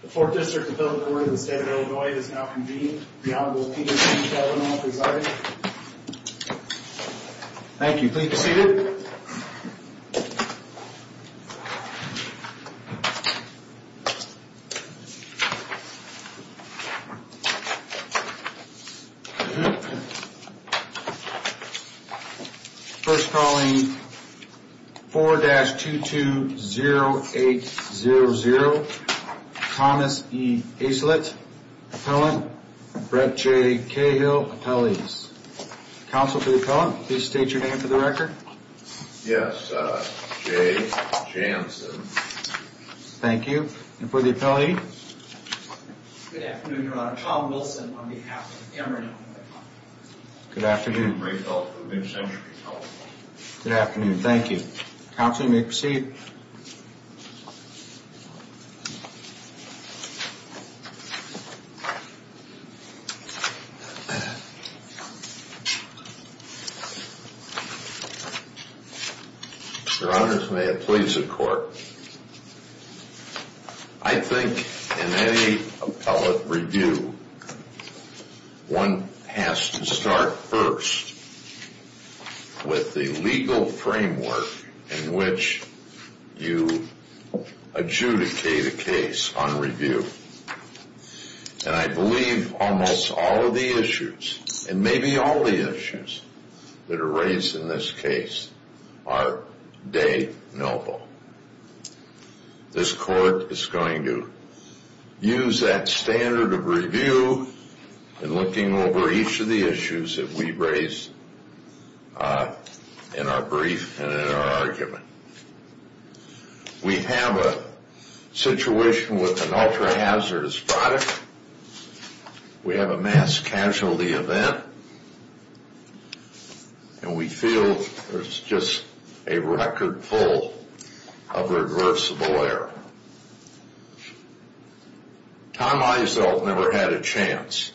The 4th District of Illinois is now convened. The Honorable Peter T. Sheldon will preside. Thank you. Please be seated. First calling 4-220800 Thomas E. Aislett, appellant, Brett J. Cahill, appellees. Counsel to the appellant, please state your name for the record. Yes, J. Jansen. Thank you. And for the appellee? Good afternoon, Your Honor. Tom Wilson on behalf of Emory. Good afternoon. Good afternoon. Thank you. Counsel, you may proceed. Your Honors, may it please the Court. I think in any appellate review, one has to start first with the legal framework in which you adjudicate a case on review. And I believe almost all of the issues, and maybe all the issues, that are raised in this case are de nobis. This Court is going to use that standard of review in looking over each of the issues that we raise in our brief and in our argument. We have a situation with an ultra-hazardous product. We have a mass casualty event. And we feel there's just a record full of reversible error. Tom Aislett never had a chance.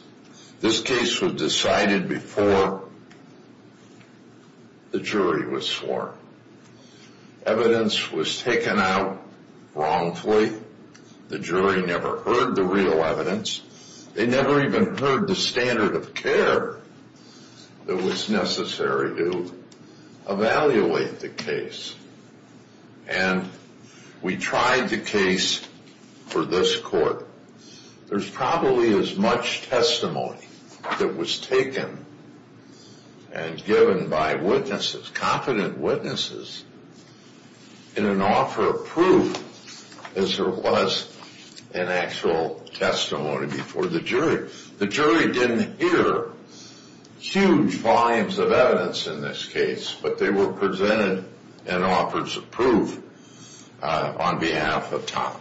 This case was decided before the jury was sworn. Evidence was taken out wrongfully. The jury never heard the real evidence. They never even heard the standard of care that was necessary to evaluate the case. And we tried the case for this Court. There's probably as much testimony that was taken and given by witnesses, confident witnesses, in an offer of proof as there was in actual testimony before the jury. The jury didn't hear huge volumes of evidence in this case, but they were presented in offers of proof on behalf of Tom.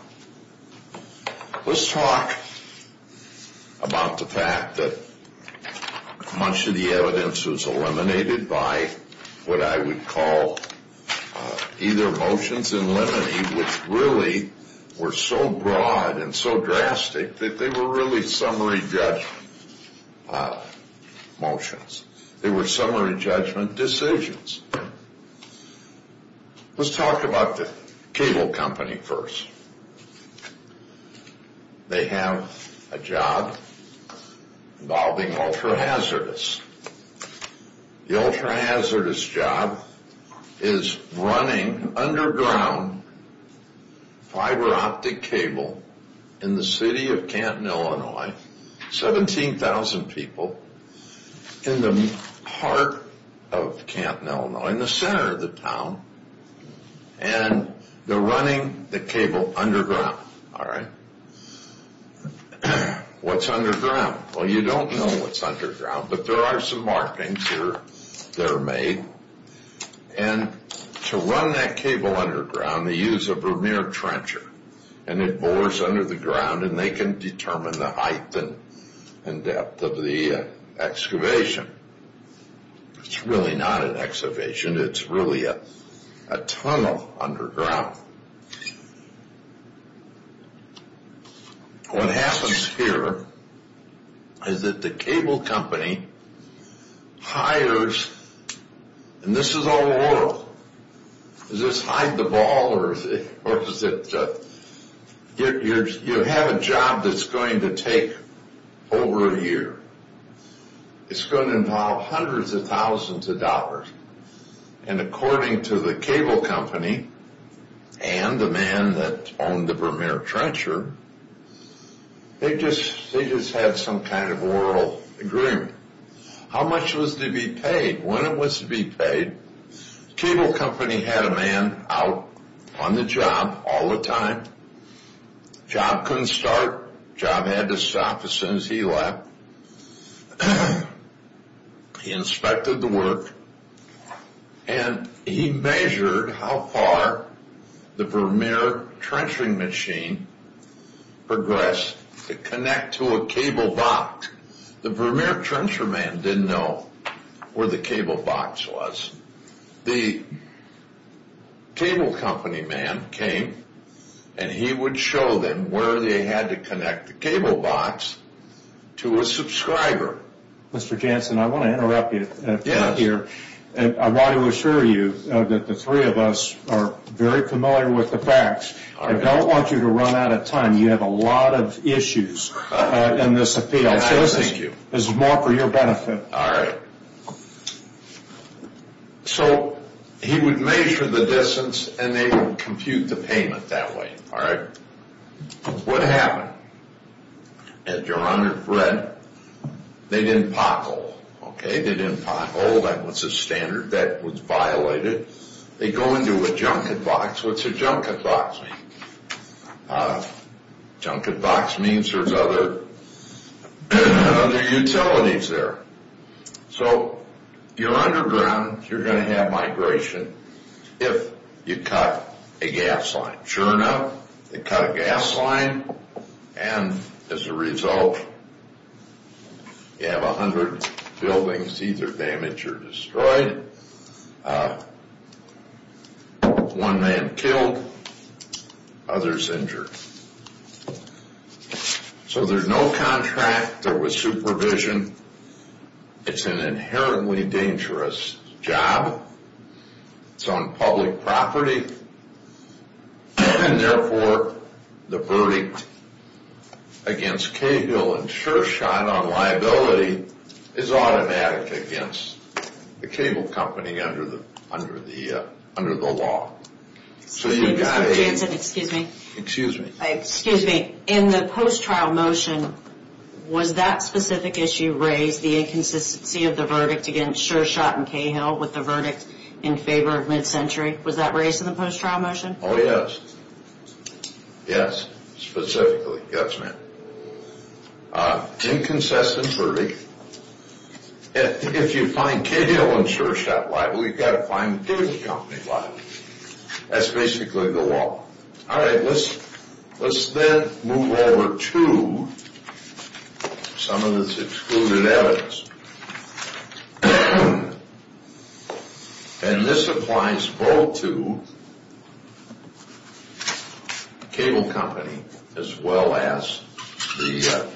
Let's talk about the fact that much of the evidence was eliminated by what I would call either motions in limine, which really were so broad and so drastic that they were really summary judgment motions. They were summary judgment decisions. Let's talk about the cable company first. They have a job involving ultra-hazardous. The ultra-hazardous job is running underground fiber optic cable in the city of Canton, Illinois. 17,000 people in the heart of Canton, Illinois, in the center of the town. And they're running the cable underground. All right. What's underground? Well, you don't know what's underground, but there are some markings that are made. And to run that cable underground, they use a Vermeer trencher. And it bores under the ground, and they can determine the height and depth of the excavation. It's really not an excavation. It's really a tunnel underground. Now, what happens here is that the cable company hires, and this is all oral. Is this hide the ball, or is it you have a job that's going to take over a year. It's going to involve hundreds of thousands of dollars. And according to the cable company and the man that owned the Vermeer trencher, they just had some kind of oral agreement. How much was to be paid? When it was to be paid, the cable company had a man out on the job all the time. The job couldn't start. The job had to stop as soon as he left. He inspected the work, and he measured how far the Vermeer trenching machine progressed to connect to a cable box. The Vermeer trencher man didn't know where the cable box was. The cable company man came, and he would show them where they had to connect the cable box to a subscriber. Mr. Jansen, I want to interrupt you here. I want to assure you that the three of us are very familiar with the facts. I don't want you to run out of time. You have a lot of issues in this appeal. Thank you. This is more for your benefit. All right. So he would measure the distance, and they would compute the payment that way. All right. What happened? As Your Honor read, they didn't pothole. Okay? They didn't pothole. That was a standard. That was violated. They go into a junket box. What's a junket box mean? Junket box means there's other utilities there. So you're underground. You're going to have migration if you cut a gas line. Sure enough, they cut a gas line, and as a result, you have 100 buildings either damaged or destroyed. One man killed. Others injured. So there's no contract. There was supervision. It's an inherently dangerous job. It's on public property. And therefore, the verdict against Cahill and Shershot on liability is automatic against the cable company under the law. Excuse me. Excuse me. In the post-trial motion, was that specific issue raised, the inconsistency of the verdict against Shershot and Cahill with the verdict in favor of mid-century? Was that raised in the post-trial motion? Oh, yes. Yes, specifically. Yes, ma'am. Inconsistent verdict. If you find Cahill and Shershot liable, you've got to find the cable company liable. That's basically the law. All right. Let's then move over to some of this excluded evidence. And this applies both to the cable company as well as the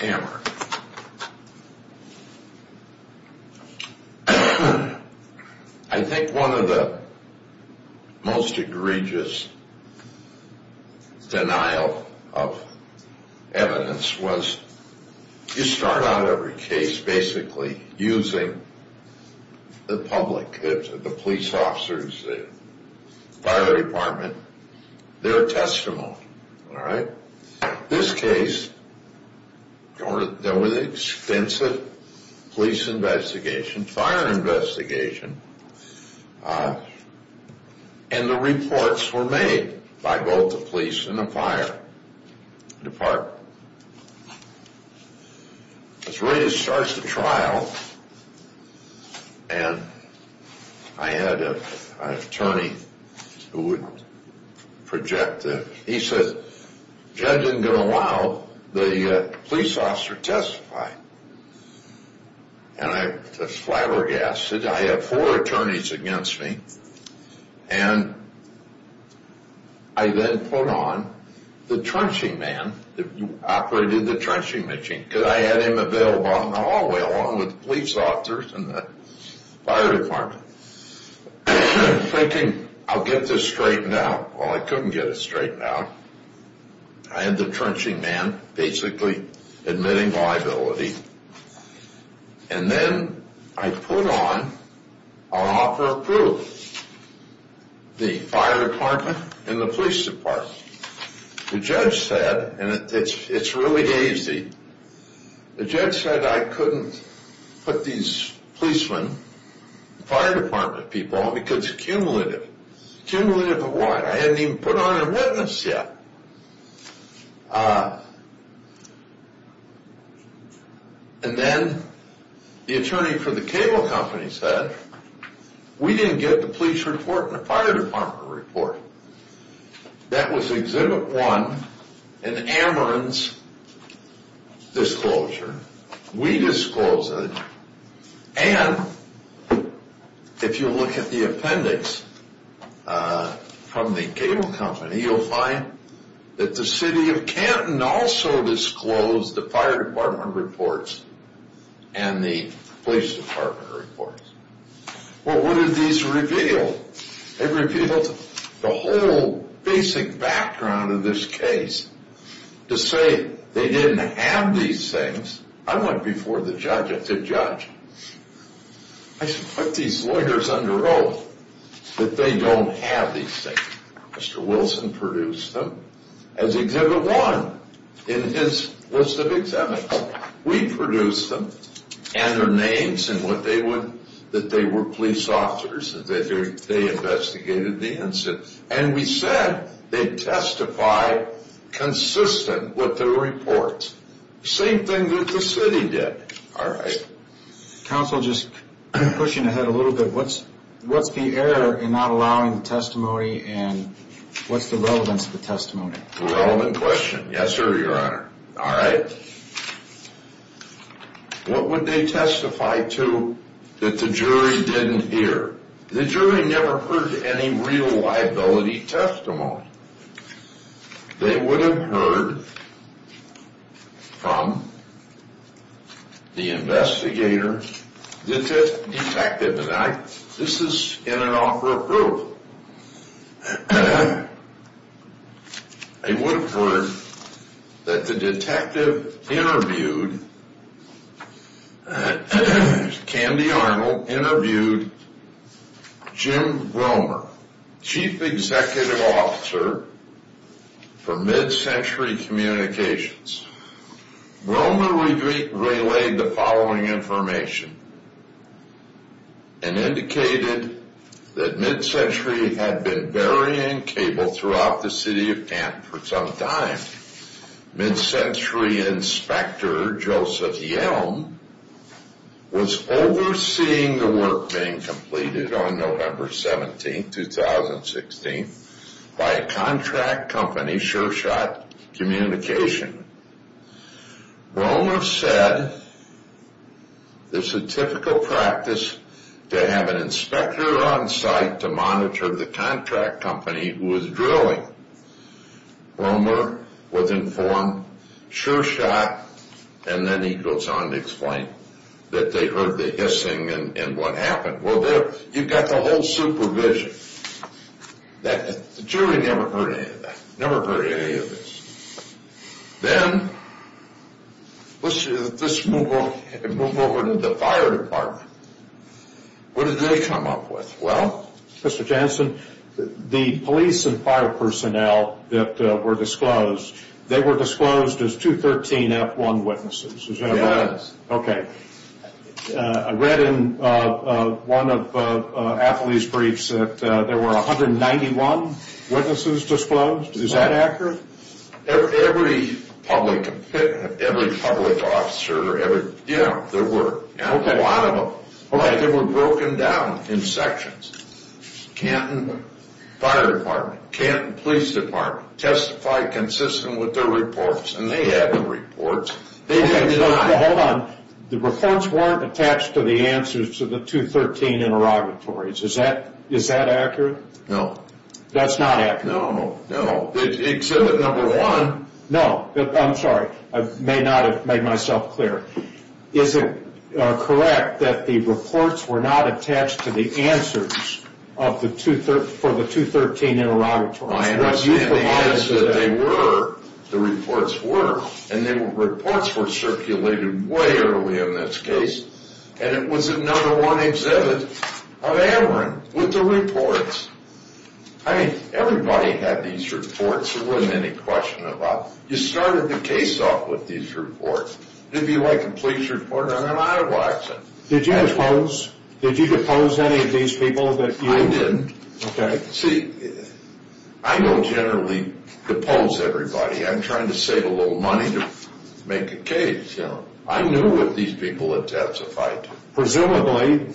hammer. I think one of the most egregious denial of evidence was you start out every case basically using the public. The police officers, the fire department, their testimony. All right? This case, there was an extensive police investigation, fire investigation, and the reports were made by both the police and the fire department. As Ray starts the trial, and I had an attorney who would project this. He says, Judge isn't going to allow the police officer to testify. And I just flabbergasted. I have four attorneys against me. And I then put on the trenching man that operated the trenching machine because I had him available in the hallway along with the police officers and the fire department, thinking I'll get this straightened out. Well, I couldn't get it straightened out. I had the trenching man basically admitting liability. And then I put on, I'll offer proof, the fire department and the police department. The judge said, and it's really easy, the judge said I couldn't put these policemen, fire department people, because it's cumulative. Cumulative of what? I hadn't even put on a witness yet. And then the attorney for the cable company said, we didn't get the police report and the fire department report. That was exhibit one in Ameren's disclosure. We disclosed it. And if you look at the appendix from the cable company, you'll find that the city of Canton also disclosed the fire department reports and the police department reports. Well, what did these reveal? It revealed the whole basic background of this case to say they didn't have these things. I went before the judge. I said, judge, I said, put these lawyers under oath that they don't have these things. Mr. Wilson produced them as exhibit one in his list of examinees. We produced them and their names and that they were police officers, that they investigated the incident. And we said they testify consistent with the reports. Same thing that the city did. All right. Counsel, just pushing ahead a little bit, what's the error in not allowing the testimony and what's the relevance of the testimony? Relevant question. Yes, sir, Your Honor. All right. What would they testify to that the jury didn't hear? The jury never heard any real liability testimony. They would have heard from the investigator detective. And this is in an offer of proof. They would have heard that the detective interviewed Candy Arnold, Jim Gromer, chief executive officer for Mid-Century Communications. Gromer relayed the following information and indicated that Mid-Century had been varying cable throughout the city of camp for some time. Mid-Century inspector, Joseph Yelm, was overseeing the work being completed on November 17, 2016, by a contract company, SureShot Communication. Gromer said, it's a typical practice to have an inspector on site to monitor the contract company who is drilling. Gromer was informed, SureShot, and then he goes on to explain that they heard the hissing and what happened. Well, you've got the whole supervision. The jury never heard any of that, never heard any of this. Then, let's move over to the fire department. What did they come up with? Well, Mr. Jansen, the police and fire personnel that were disclosed, they were disclosed as 213F1 witnesses. Yes. Okay. I read in one of Athlee's briefs that there were 191 witnesses disclosed. Is that accurate? Every public officer, there were. Okay. They were broken down in sections. Canton Fire Department, Canton Police Department testified consistent with their reports, and they had the reports. Hold on. The reports weren't attached to the answers to the 213 interrogatories. Is that accurate? No. That's not accurate? No, no. Exhibit number one. No. I'm sorry. I may not have made myself clear. Is it correct that the reports were not attached to the answers for the 213 interrogatories? I understand the answer that they were, the reports were, and the reports were circulated way early in this case, and it was in number one exhibit of Ameren with the reports. I mean, everybody had these reports. There wasn't any question about it. You started the case off with these reports. It would be like a police report. I mean, I watched it. Did you depose? Did you depose any of these people that you? I didn't. Okay. See, I don't generally depose everybody. I'm trying to save a little money to make a case, you know. I knew what these people had testified to. Presumably,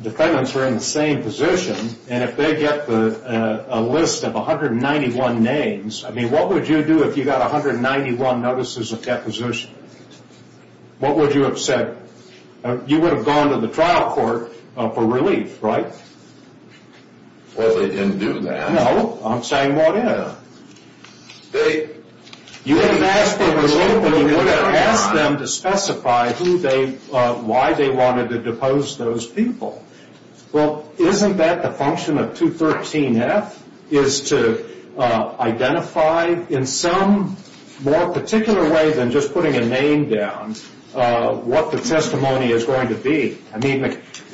defendants were in the same position, and if they get a list of 191 names, I mean, what would you do if you got 191 notices of deposition? What would you have said? You would have gone to the trial court for relief, right? Well, they didn't do that. No. I'm saying what is. You would have asked them to specify who they, why they wanted to depose those people. Well, isn't that the function of 213F is to identify in some more particular way than just putting a name down what the testimony is going to be? I mean,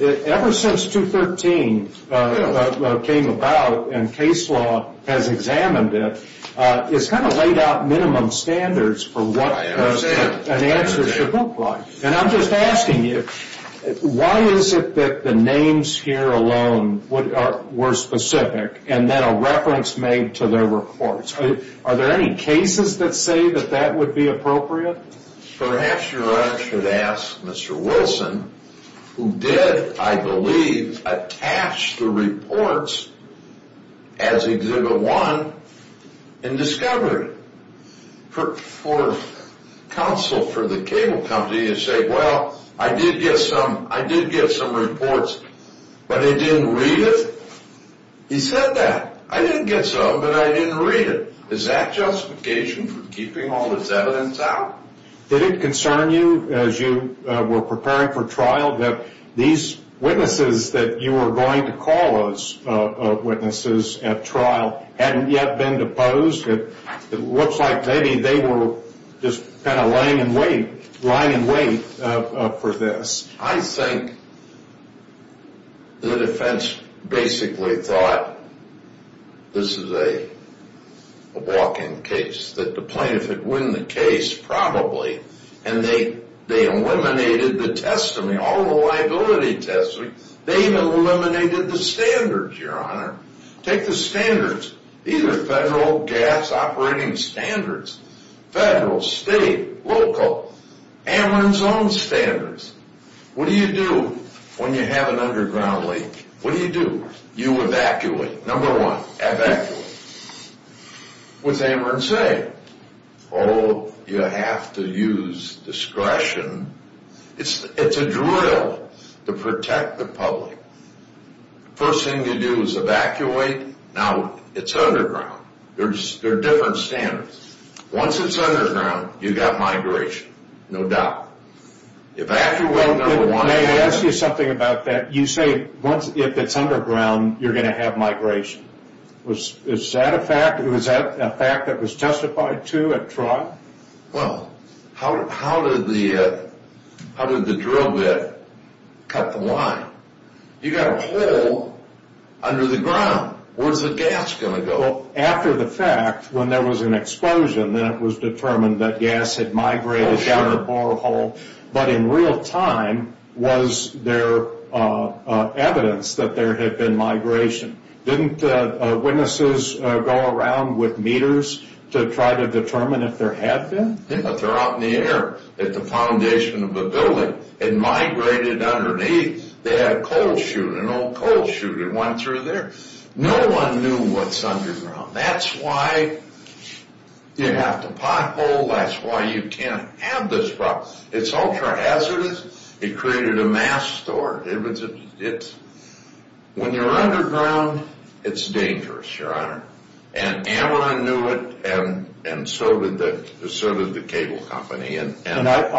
ever since 213 came about and case law has examined it, it's kind of laid out minimum standards for what an answer should look like. And I'm just asking you, why is it that the names here alone were specific and then a reference made to their reports? Are there any cases that say that that would be appropriate? Perhaps you should ask Mr. Wilson, who did, I believe, attach the reports as Exhibit 1 and discovered it. Well, the 24th counsel for the cable company is saying, well, I did get some reports, but they didn't read it. He said that. I didn't get some, but I didn't read it. Is that justification for keeping all this evidence out? Did it concern you as you were preparing for trial that these witnesses that you were going to call us, witnesses at trial, hadn't yet been deposed? It looks like maybe they were just kind of lying in wait for this. I think the defense basically thought this is a walk-in case, that the plaintiff would win the case probably, and they eliminated the testimony, all the liability testimony. They've eliminated the standards, Your Honor. Take the standards. These are federal gas operating standards. Federal, state, local. Ameren's own standards. What do you do when you have an underground leak? What do you do? You evacuate. Number one, evacuate. What's Ameren saying? Oh, you have to use discretion. It's a drill to protect the public. First thing you do is evacuate. Now it's underground. There are different standards. Once it's underground, you've got migration, no doubt. Evacuate number one. May I ask you something about that? You say if it's underground, you're going to have migration. Is that a fact? Was that a fact that was testified to at trial? Well, how did the drill bit cut the line? You've got a hole under the ground. Where's the gas going to go? After the fact, when there was an explosion, then it was determined that gas had migrated down the borehole. But in real time, was there evidence that there had been migration? Didn't witnesses go around with meters to try to determine if there had been? But they're out in the air at the foundation of a building. It migrated underneath. They had a coal chute, an old coal chute. It went through there. No one knew what's underground. That's why you have to pothole. That's why you can't have this problem. It's ultra-hazardous. It created a mass store. When you're underground, it's dangerous, Your Honor. And Ameren knew it, and so did the cable company. I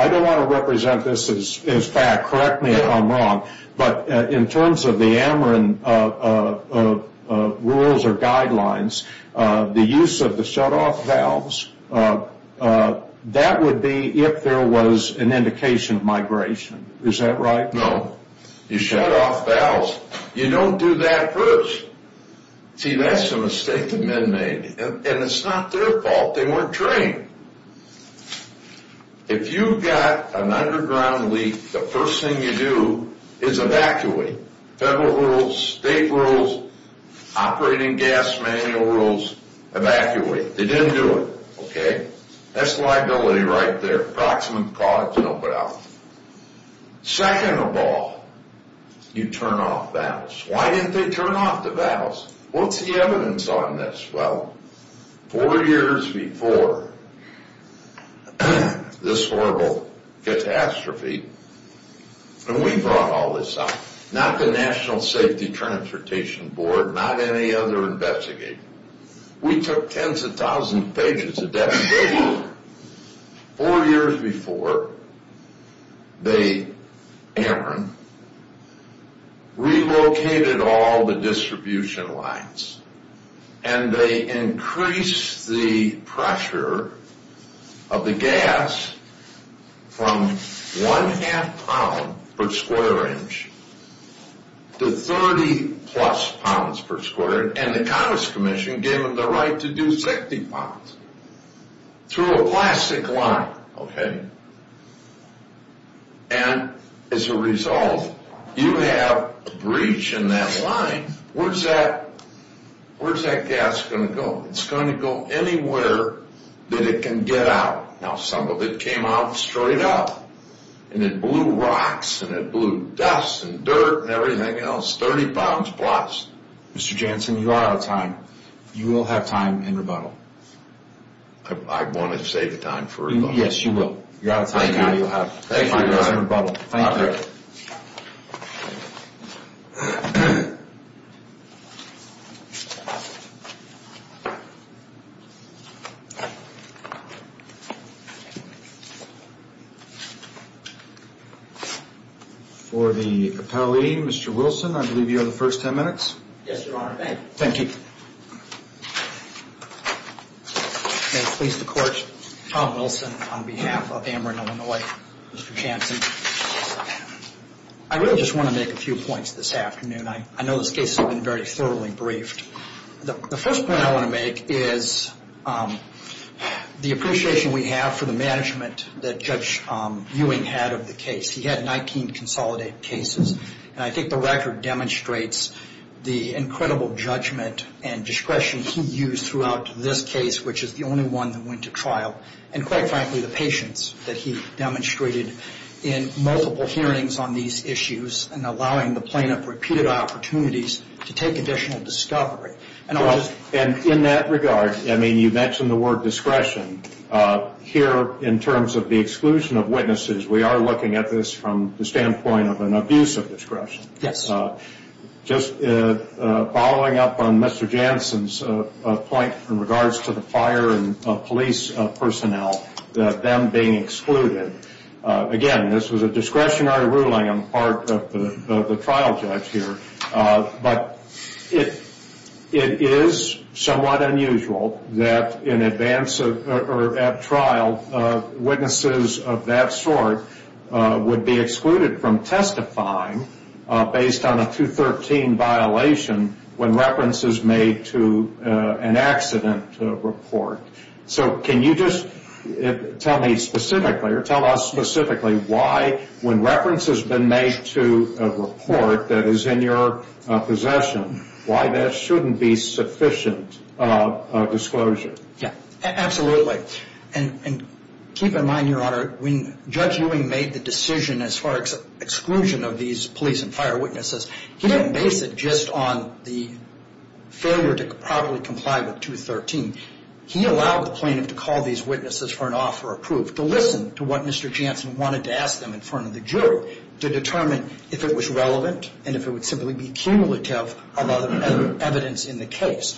don't want to represent this as fact. Correct me if I'm wrong. But in terms of the Ameren rules or guidelines, the use of the shutoff valves, that would be if there was an indication of migration. Is that right? No. You shut off valves. You don't do that first. See, that's a mistake the men made. And it's not their fault. They weren't trained. If you've got an underground leak, the first thing you do is evacuate. Federal rules, state rules, operating gas manual rules, evacuate. They didn't do it. Okay? That's liability right there. Approximate cause, you don't put out. Second of all, you turn off valves. Why didn't they turn off the valves? What's the evidence on this? Well, four years before this horrible catastrophe, and we brought all this up, not the National Safety Transportation Board, not any other investigator. We took tens of thousands of pages of documentation. Four years before, they, Aaron, relocated all the distribution lines, and they increased the pressure of the gas from one-half pound per square inch to 30-plus pounds per square inch, and the Congress Commission gave them the right to do 60 pounds through a plastic line. Okay? And as a result, you have a breach in that line. Where's that gas going to go? It's going to go anywhere that it can get out. Now, some of it came out straight up, and it blew rocks and it blew dust and dirt and everything else, 30 pounds plus. Mr. Jansen, you are out of time. You will have time in rebuttal. I want to save the time for rebuttal. Yes, you will. You're out of time now. You'll have time in rebuttal. Thank you. All right. Thank you. For the appellee, Mr. Wilson, I believe you have the first 10 minutes. Yes, Your Honor. Thank you. May it please the Court, Tom Wilson on behalf of Amarillo, Illinois. Mr. Jansen, I really just want to make a few points this afternoon. I know this case has been very thoroughly briefed. The first point I want to make is the appreciation we have for the management that Judge Ewing had of the case. He had 19 consolidated cases, and I think the record demonstrates the incredible judgment and discretion he used throughout this case, which is the only one that went to trial, and quite frankly, the patience that he demonstrated in multiple hearings on these issues and allowing the plaintiff repeated opportunities to take additional discovery. In that regard, you mentioned the word discretion. Here, in terms of the exclusion of witnesses, we are looking at this from the standpoint of an abuse of discretion. Yes. Just following up on Mr. Jansen's point in regards to the fire and police personnel, them being excluded, again, this was a discretionary ruling on the part of the trial judge here, but it is somewhat unusual that in advance or at trial, witnesses of that sort would be excluded from testifying based on a 213 violation when reference is made to an accident report. So can you just tell me specifically or tell us specifically why, when reference has been made to a report that is in your possession, why that shouldn't be sufficient disclosure? Yes, absolutely. And keep in mind, Your Honor, when Judge Ewing made the decision as far as exclusion of these police and fire witnesses, he didn't base it just on the failure to properly comply with 213. He allowed the plaintiff to call these witnesses for an offer of proof, to listen to what Mr. Jansen wanted to ask them in front of the jury, to determine if it was relevant and if it would simply be cumulative of other evidence in the case.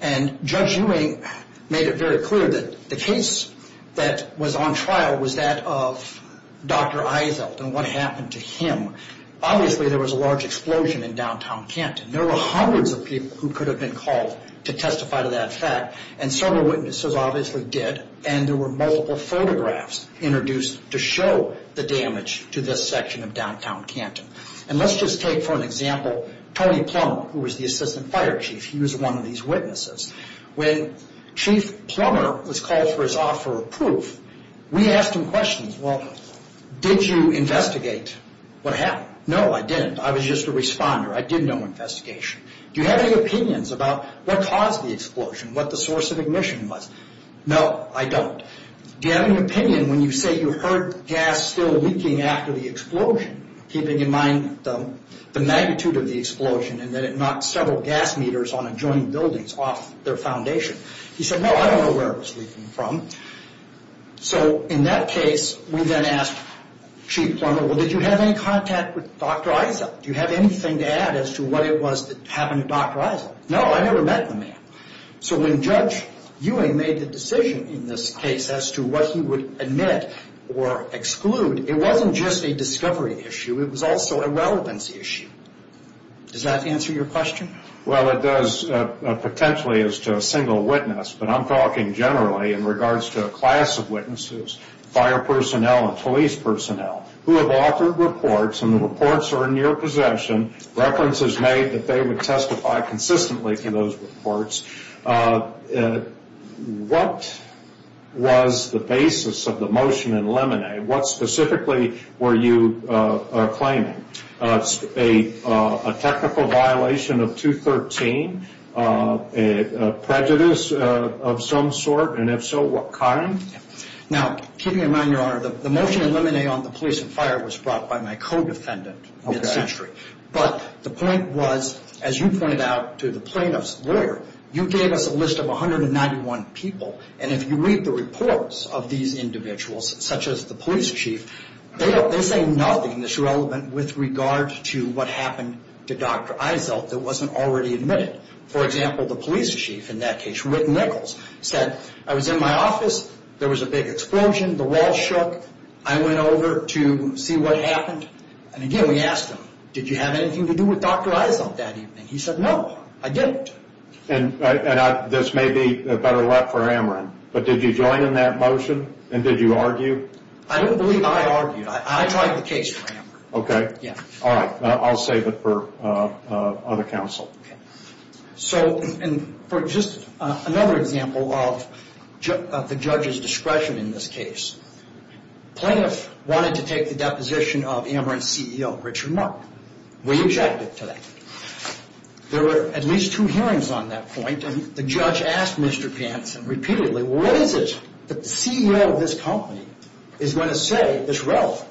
And Judge Ewing made it very clear that the case that was on trial was that of Dr. Eizelt and what happened to him. Obviously, there was a large explosion in downtown Canton. There were hundreds of people who could have been called to testify to that fact, and several witnesses obviously did, and there were multiple photographs introduced to show the damage to this section of downtown Canton. And let's just take for an example Tony Plummer, who was the assistant fire chief. He was one of these witnesses. When Chief Plummer was called for his offer of proof, we asked him questions. Well, did you investigate what happened? No, I didn't. I was just a responder. I did no investigation. Do you have any opinions about what caused the explosion, what the source of ignition was? No, I don't. Do you have any opinion when you say you heard gas still leaking after the explosion, keeping in mind the magnitude of the explosion and that it knocked several gas meters on adjoining buildings off their foundation? He said, no, I don't know where it was leaking from. So in that case, we then asked Chief Plummer, well, did you have any contact with Dr. Eizelt? Do you have anything to add as to what it was that happened to Dr. Eizelt? No, I never met the man. So when Judge Ewing made the decision in this case as to what he would admit or exclude, it wasn't just a discovery issue, it was also a relevance issue. Does that answer your question? Well, it does potentially as to a single witness, but I'm talking generally in regards to a class of witnesses, fire personnel and police personnel, who have authored reports, and the reports are in your possession, references made that they would testify consistently to those reports. What was the basis of the motion in Lemonet? What specifically were you claiming? A technical violation of 213? Prejudice of some sort? And if so, what kind? Now, keeping in mind, Your Honor, the motion in Lemonet on the police and fire was brought by my co-defendant. But the point was, as you pointed out to the plaintiff's lawyer, you gave us a list of 191 people, and if you read the reports of these individuals, such as the police chief, they say nothing that's relevant with regard to what happened to Dr. Eizelt that wasn't already admitted. For example, the police chief in that case, Rick Nichols, said, I was in my office, there was a big explosion, the wall shook, I went over to see what happened, and again we asked him, did you have anything to do with Dr. Eizelt that evening? He said, no, I didn't. And this may be better left for Ameren, but did you join in that motion, and did you argue? I don't believe I argued, I tried the case for Ameren. Okay. Yeah. All right, I'll save it for other counsel. So, and for just another example of the judge's discretion in this case, plaintiff wanted to take the deposition of Ameren's CEO, Richard Mark. We objected to that. There were at least two hearings on that point, and the judge asked Mr. Jansen repeatedly, what is it that the CEO of this company is going to say that's relevant?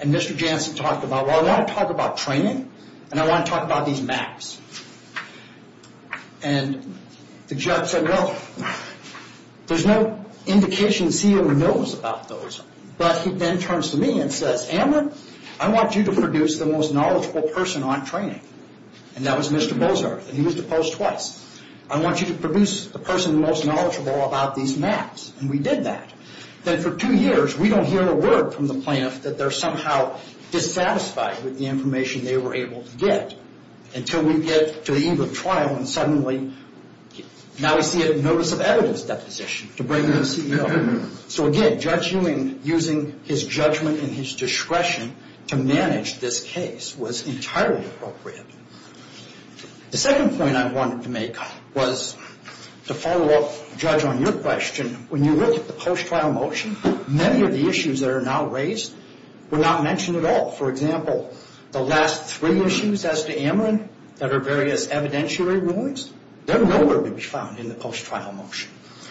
And Mr. Jansen talked about, well, I want to talk about training, and I want to talk about these maps. And the judge said, well, there's no indication the CEO knows about those. But he then turns to me and says, Ameren, I want you to produce the most knowledgeable person on training. And that was Mr. Bozer, and he was opposed twice. I want you to produce the person most knowledgeable about these maps, and we did that. Then for two years, we don't hear a word from the plaintiff that they're somehow dissatisfied with the information they were able to get. Until we get to the eve of trial, and suddenly, now we see a notice of evidence deposition to bring in the CEO. So, again, Judge Ewing, using his judgment and his discretion to manage this case was entirely appropriate. The second point I wanted to make was to follow up, Judge, on your question. When you look at the post-trial motion, many of the issues that are now raised were not mentioned at all. For example, the last three issues as to Ameren that are various evidentiary rulings, they're nowhere to be found in the post-trial motion.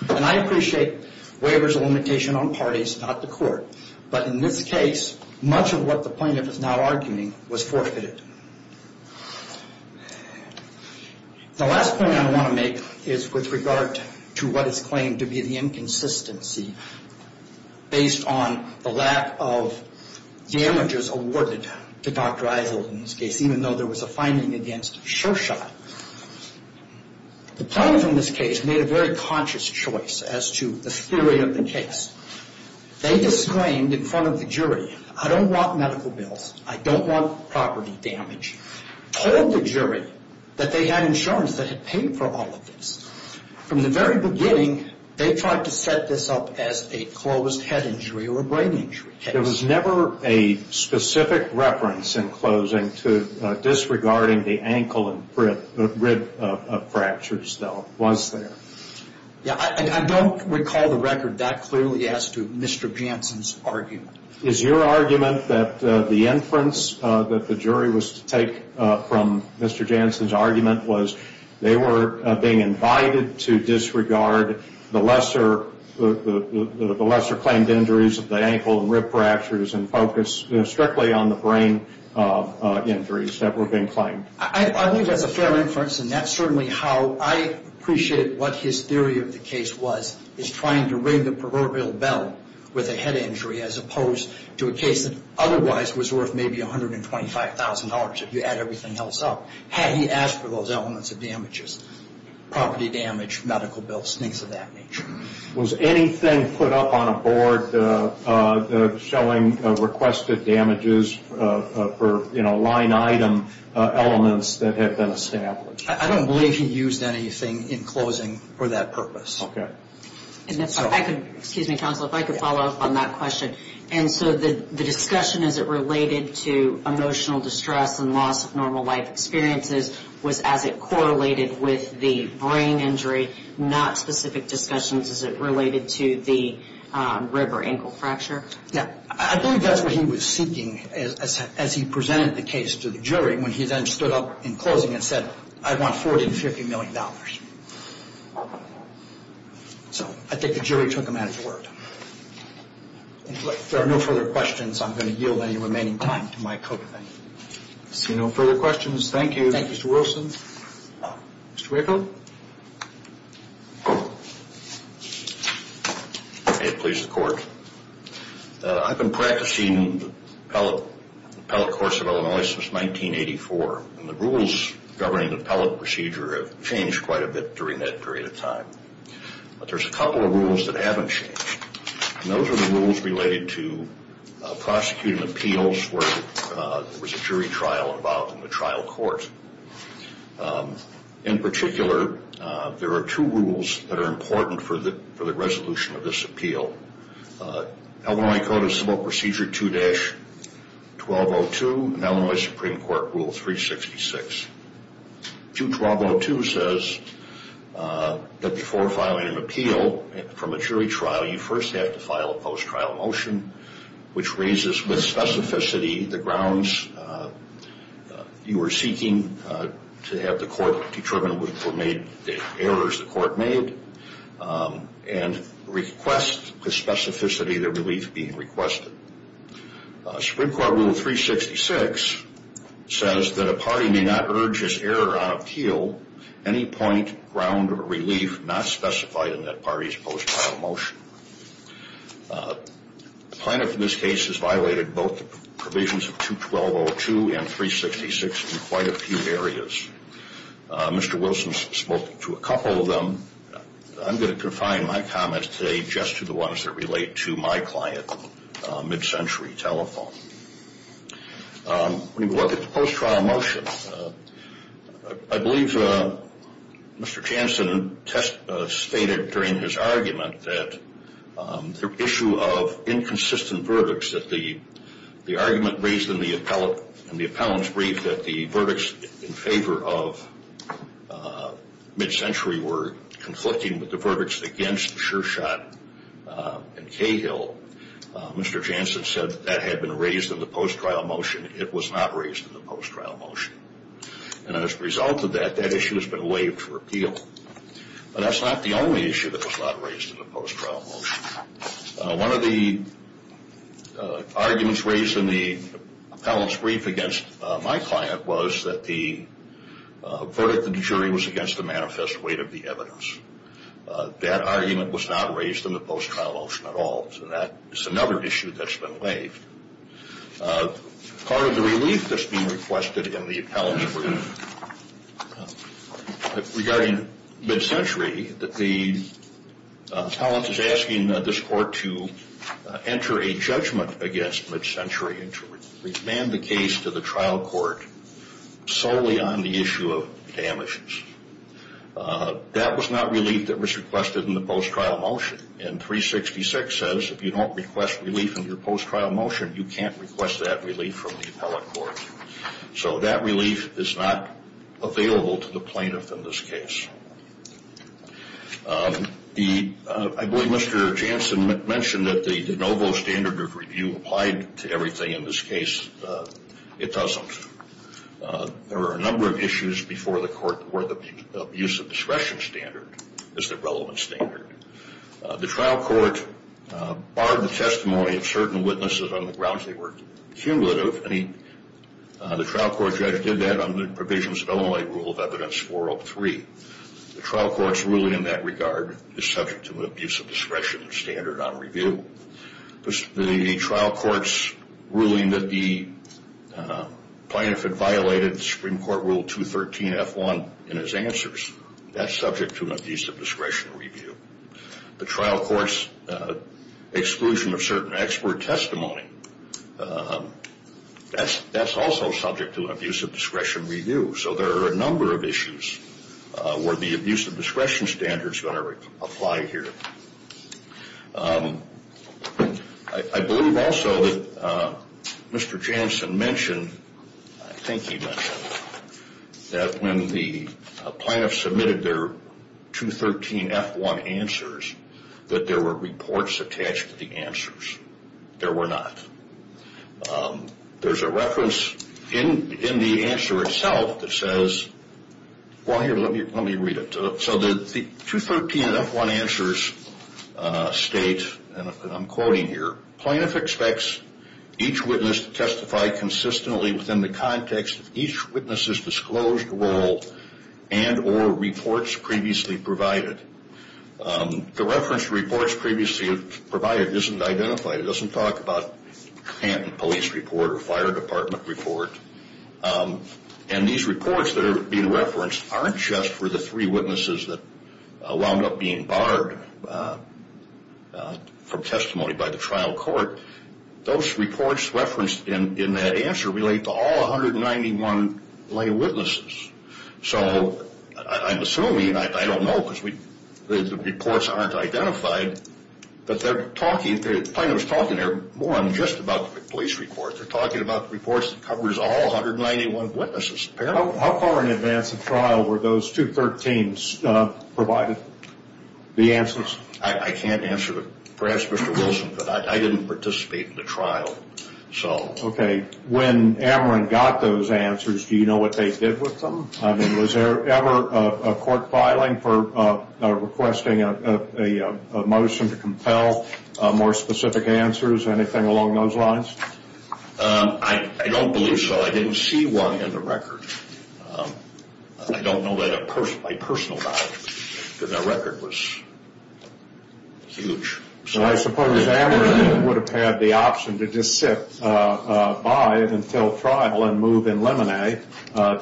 And I appreciate waivers of limitation on parties, not the court. But in this case, much of what the plaintiff is now arguing was forfeited. The last point I want to make is with regard to what is claimed to be the inconsistency based on the lack of damages awarded to Dr. Eisele in this case, even though there was a finding against Shershot. The plaintiff in this case made a very conscious choice as to the theory of the case. They disclaimed in front of the jury, I don't want medical bills, I don't want property damage, told the jury that they had insurance that had paid for all of this. From the very beginning, they tried to set this up as a closed head injury or a brain injury case. There was never a specific reference in closing to disregarding the ankle and rib fractures, though, was there? Yeah, I don't recall the record that clearly as to Mr. Jansen's argument. Is your argument that the inference that the jury was to take from Mr. Jansen's argument was they were being invited to disregard the lesser claimed injuries of the ankle and rib fractures and focus strictly on the brain injuries that were being claimed? I think that's a fair inference, and that's certainly how I appreciate what his theory of the case was, is trying to ring the proverbial bell with a head injury as opposed to a case that otherwise was worth maybe $125,000 if you add everything else up. Had he asked for those elements of damages, property damage, medical bills, things of that nature. Was anything put up on a board showing requested damages for line item elements that had been established? I don't believe he used anything in closing for that purpose. Okay. Excuse me, counsel, if I could follow up on that question. And so the discussion as it related to emotional distress and loss of normal life experiences was as it correlated with the brain injury, not specific discussions as it related to the rib or ankle fracture? Yeah. I believe that's what he was seeking as he presented the case to the jury when he then stood up in closing and said, I want $40 to $50 million. So I think the jury took him at his word. If there are no further questions, I'm going to yield any remaining time to my co-defendant. I see no further questions. Thank you. Thank you, Mr. Wilson. Mr. Waco? May it please the court. I've been practicing the appellate course at Illinois since 1984. And the rules governing the appellate procedure have changed quite a bit during that period of time. But there's a couple of rules that haven't changed. And those are the rules related to prosecuting appeals where there was a jury trial involved in the trial court. In particular, there are two rules that are important for the resolution of this appeal. Illinois Code of Civil Procedure 2-1202 and Illinois Supreme Court Rule 366. 2-1202 says that before filing an appeal for a jury trial, you first have to file a post-trial motion, which raises with specificity the grounds you are seeking to have the court determine which were made, the errors the court made, and request with specificity the relief being requested. Supreme Court Rule 366 says that a party may not urge his error on appeal, any point, ground, or relief not specified in that party's post-trial motion. The plaintiff in this case has violated both the provisions of 2-1202 and 366 in quite a few areas. Mr. Wilson spoke to a couple of them. I'm going to confine my comments today just to the ones that relate to my client, Mid-Century Telephone. When we look at the post-trial motion, I believe Mr. Jansen stated during his argument that the issue of inconsistent verdicts, that the argument raised in the appellant's brief that the verdicts in favor of Mid-Century were conflicting with the verdicts against Shershot and Cahill, Mr. Jansen said that had been raised in the post-trial motion. It was not raised in the post-trial motion. And as a result of that, that issue has been waived for appeal. But that's not the only issue that was not raised in the post-trial motion. One of the arguments raised in the appellant's brief against my client was that the verdict of the jury was against the manifest weight of the evidence. That argument was not raised in the post-trial motion at all. So that is another issue that's been waived. Part of the relief that's being requested in the appellant's brief regarding Mid-Century, that the appellant is asking this court to enter a judgment against Mid-Century and to remand the case to the trial court solely on the issue of damages. That was not relief that was requested in the post-trial motion. And 366 says if you don't request relief in your post-trial motion, you can't request that relief from the appellant court. So that relief is not available to the plaintiff in this case. I believe Mr. Jansen mentioned that the de novo standard of review applied to everything in this case. It doesn't. There are a number of issues before the court where the abuse of discretion standard is the relevant standard. The trial court barred the testimony of certain witnesses on the grounds they were cumulative. The trial court judge did that under provisions of Illinois Rule of Evidence 403. The trial court's ruling in that regard is subject to an abuse of discretion standard on review. The trial court's ruling that the plaintiff had violated Supreme Court Rule 213-F1 in his answers, that's subject to an abuse of discretion review. The trial court's exclusion of certain expert testimony, that's also subject to an abuse of discretion review. So there are a number of issues where the abuse of discretion standard is going to apply here. I believe also that Mr. Jansen mentioned, I think he mentioned, that when the plaintiff submitted their 213-F1 answers that there were reports attached to the answers. There were not. There's a reference in the answer itself that says, well, here, let me read it. So the 213-F1 answers state, and I'm quoting here, plaintiff expects each witness to testify consistently within the context of each witness' disclosed role and or reports previously provided. The reference reports previously provided isn't identified. It doesn't talk about police report or fire department report. And these reports that are being referenced aren't just for the three witnesses that wound up being barred from testimony by the trial court. Those reports referenced in that answer relate to all 191 lay witnesses. So I'm assuming, I don't know because the reports aren't identified, but they're talking, the plaintiff was talking there more than just about the police report. They're talking about the reports that covers all 191 witnesses apparently. How far in advance of trial were those 213s provided, the answers? I can't answer that. Perhaps Mr. Wilson could. I didn't participate in the trial, so. Okay. When Ameren got those answers, do you know what they did with them? I mean, was there ever a court filing for requesting a motion to compel more specific answers, anything along those lines? I don't believe so. I didn't see one in the record. I don't know that a personal file, because that record was huge. I suppose Ameren would have had the option to just sit by until trial and move in Lemonay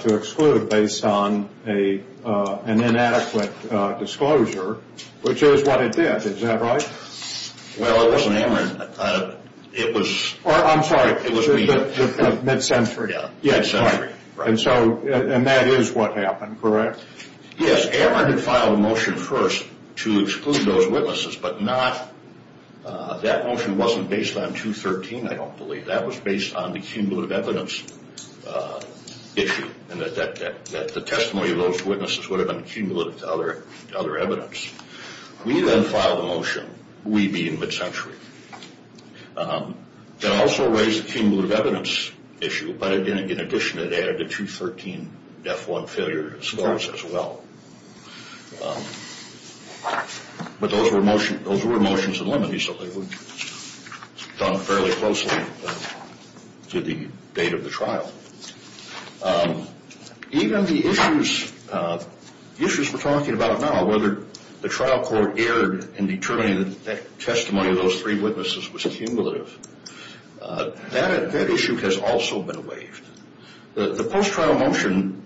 to exclude based on an inadequate disclosure, which is what it did. Is that right? Well, it wasn't Ameren. It was. I'm sorry. It was me. The mid-century. Yeah, mid-century. And that is what happened, correct? Yes, Ameren had filed a motion first to exclude those witnesses, but that motion wasn't based on 213, I don't believe. That was based on the cumulative evidence issue, and that the testimony of those witnesses would have been cumulative to other evidence. We then filed a motion, we being mid-century, that also raised the cumulative evidence issue, but in addition it added the 213 death warrant failure as well. But those were motions in Lemonay, so they were done fairly closely to the date of the trial. Even the issues we're talking about now, whether the trial court erred in determining that the testimony of those three witnesses was cumulative, that issue has also been waived. The post-trial motion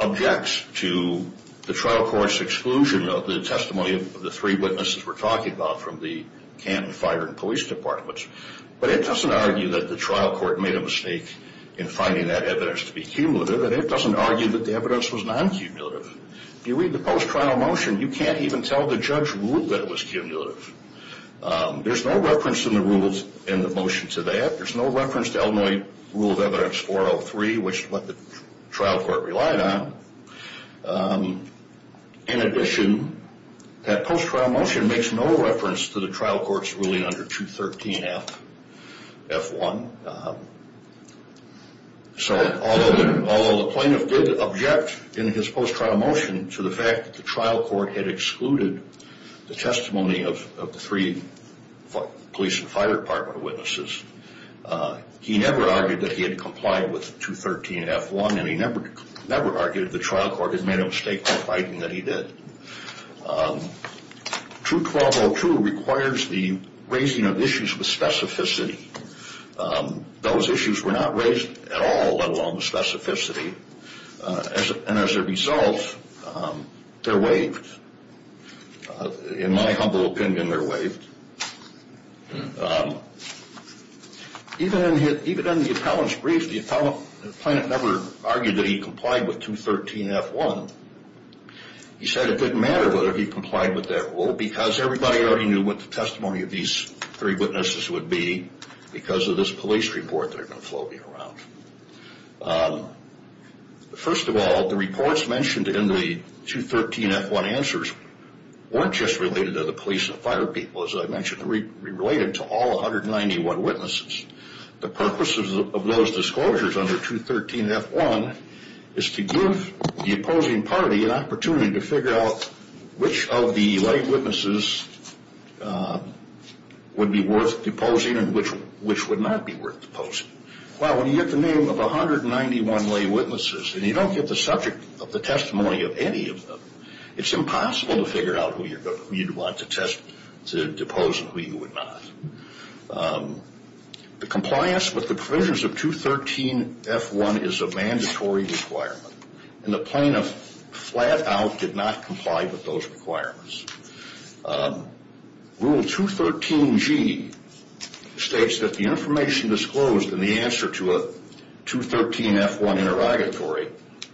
objects to the trial court's exclusion of the testimony of the three witnesses we're talking about from the canton fire and police departments, but it doesn't argue that the trial court made a mistake in finding that evidence to be cumulative, and it doesn't argue that the evidence was non-cumulative. If you read the post-trial motion, you can't even tell the judge ruled that it was cumulative. There's no reference in the rules in the motion to that. There's no reference to Illinois Rule of Evidence 403, which is what the trial court relied on. In addition, that post-trial motion makes no reference to the trial court's ruling under 213 F1. So although the plaintiff did object in his post-trial motion to the fact that the trial court had excluded the testimony of the three police and fire department witnesses, he never argued that he had complied with 213 F1, and he never argued that the trial court had made a mistake in finding that he did. True 12.02 requires the raising of issues with specificity. Those issues were not raised at all, let alone the specificity, and as a result, they're waived. In my humble opinion, they're waived. Even in the appellant's brief, the appellant never argued that he complied with 213 F1. He said it didn't matter whether he complied with that rule because everybody already knew what the testimony of these three witnesses would be because of this police report that had been floating around. First of all, the reports mentioned in the 213 F1 answers weren't just related to the police and fire people, as I mentioned. They were related to all 191 witnesses. The purpose of those disclosures under 213 F1 is to give the opposing party an opportunity to figure out which of the lay witnesses would be worth deposing and which would not be worth deposing. Well, when you get the name of 191 lay witnesses and you don't get the subject of the testimony of any of them, it's impossible to figure out who you'd want to depose and who you would not. The compliance with the provisions of 213 F1 is a mandatory requirement, and the plaintiff flat out did not comply with those requirements. Rule 213G states that the information disclosed in the answer to a 213 F1 interrogatory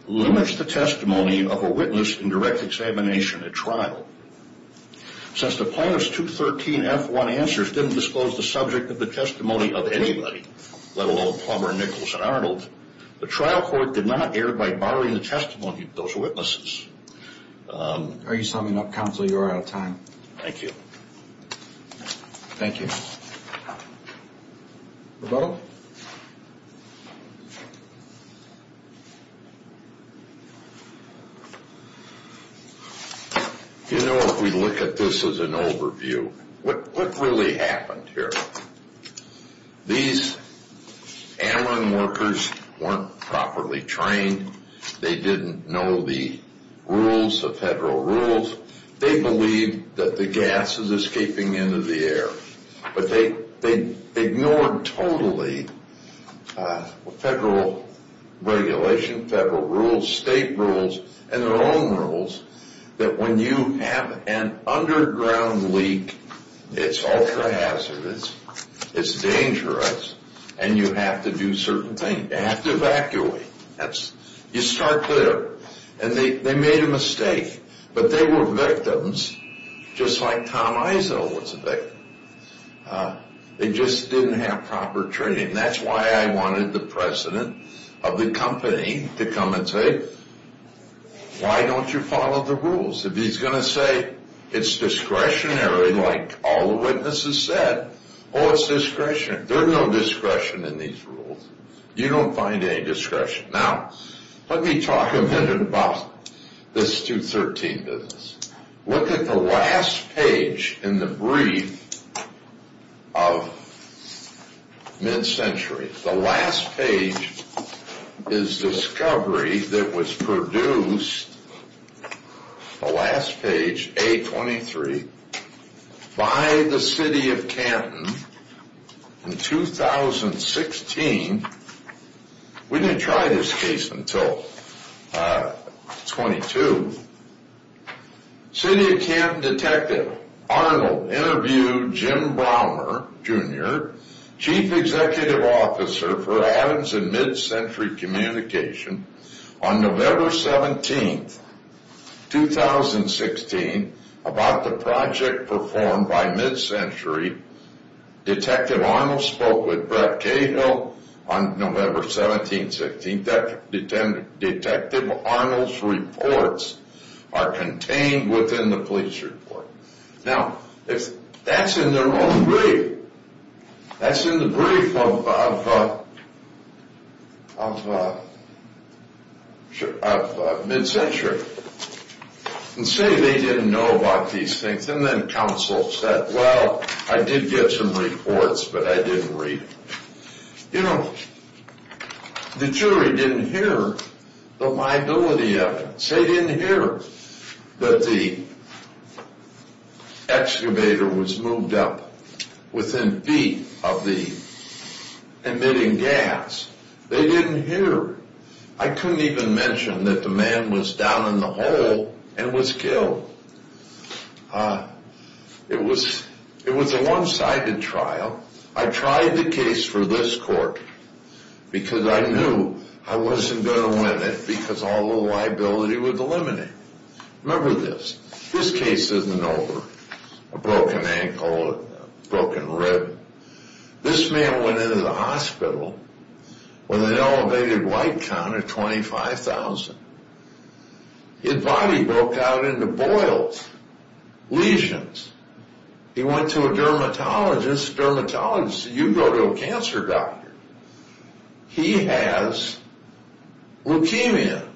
limits the testimony of a witness in direct examination at trial. Since the plaintiff's 213 F1 answers didn't disclose the subject of the testimony of anybody, let alone Plumber, Nichols, and Arnold, the trial court did not err by barring the testimony of those witnesses. Are you summing up, counsel? You're out of time. Thank you. Thank you. Roberto? You know, if we look at this as an overview, what really happened here? These airline workers weren't properly trained. They didn't know the rules, the federal rules. They believed that the gas is escaping into the air, but they ignored totally federal regulation, federal rules, state rules, and their own rules that when you have an underground leak, it's ultra-hazardous, it's dangerous, and you have to do certain things. You have to evacuate. You start there. And they made a mistake, but they were victims just like Tom Izzo was a victim. They just didn't have proper training. And that's why I wanted the president of the company to come and say, why don't you follow the rules? If he's going to say it's discretionary like all the witnesses said, oh, it's discretionary. There's no discretion in these rules. You don't find any discretion. Now, let me talk a minute about this 213 business. Look at the last page in the brief of mid-century. The last page is discovery that was produced, the last page, A23, by the city of Canton in 2016. We didn't try this case until 22. City of Canton detective Arnold interviewed Jim Browmer, Jr., chief executive officer for Adams and Mid-Century Communication, on November 17, 2016, about the project performed by Mid-Century. Detective Arnold spoke with Brett Cahill on November 17, 16. Detective Arnold's reports are contained within the police report. Now, that's in their own brief. That's in the brief of Mid-Century. And say they didn't know about these things. And then counsel said, well, I did get some reports, but I didn't read them. You know, the jury didn't hear the liability evidence. They didn't hear that the excavator was moved up within feet of the emitting gas. They didn't hear. I couldn't even mention that the man was down in the hole and was killed. It was a one-sided trial. I tried the case for this court because I knew I wasn't going to win it because all the liability was eliminated. Remember this. This case isn't over. A broken ankle, a broken rib. This man went into the hospital with an elevated white count of 25,000. His body broke out into boils, lesions. He went to a dermatologist. Dermatologist said, you go to a cancer doctor. He has leukemia.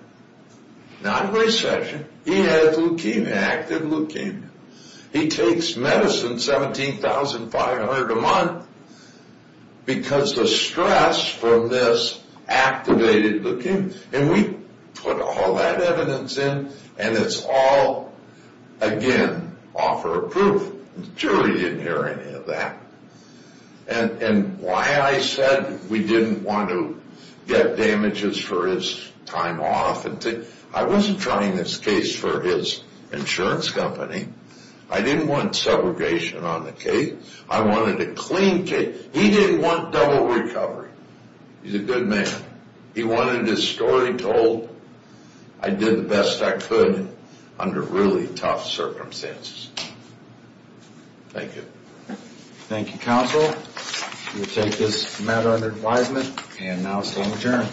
Not recession. He has leukemia, active leukemia. He takes medicine 17,500 a month because the stress from this activated leukemia. And we put all that evidence in, and it's all, again, offer of proof. The jury didn't hear any of that. And why I said we didn't want to get damages for his time off. I wasn't trying this case for his insurance company. I didn't want segregation on the case. I wanted a clean case. He didn't want double recovery. He's a good man. He wanted his story told. I did the best I could under really tough circumstances. Thank you. Thank you, counsel. We'll take this matter under advisement and now stand adjourned.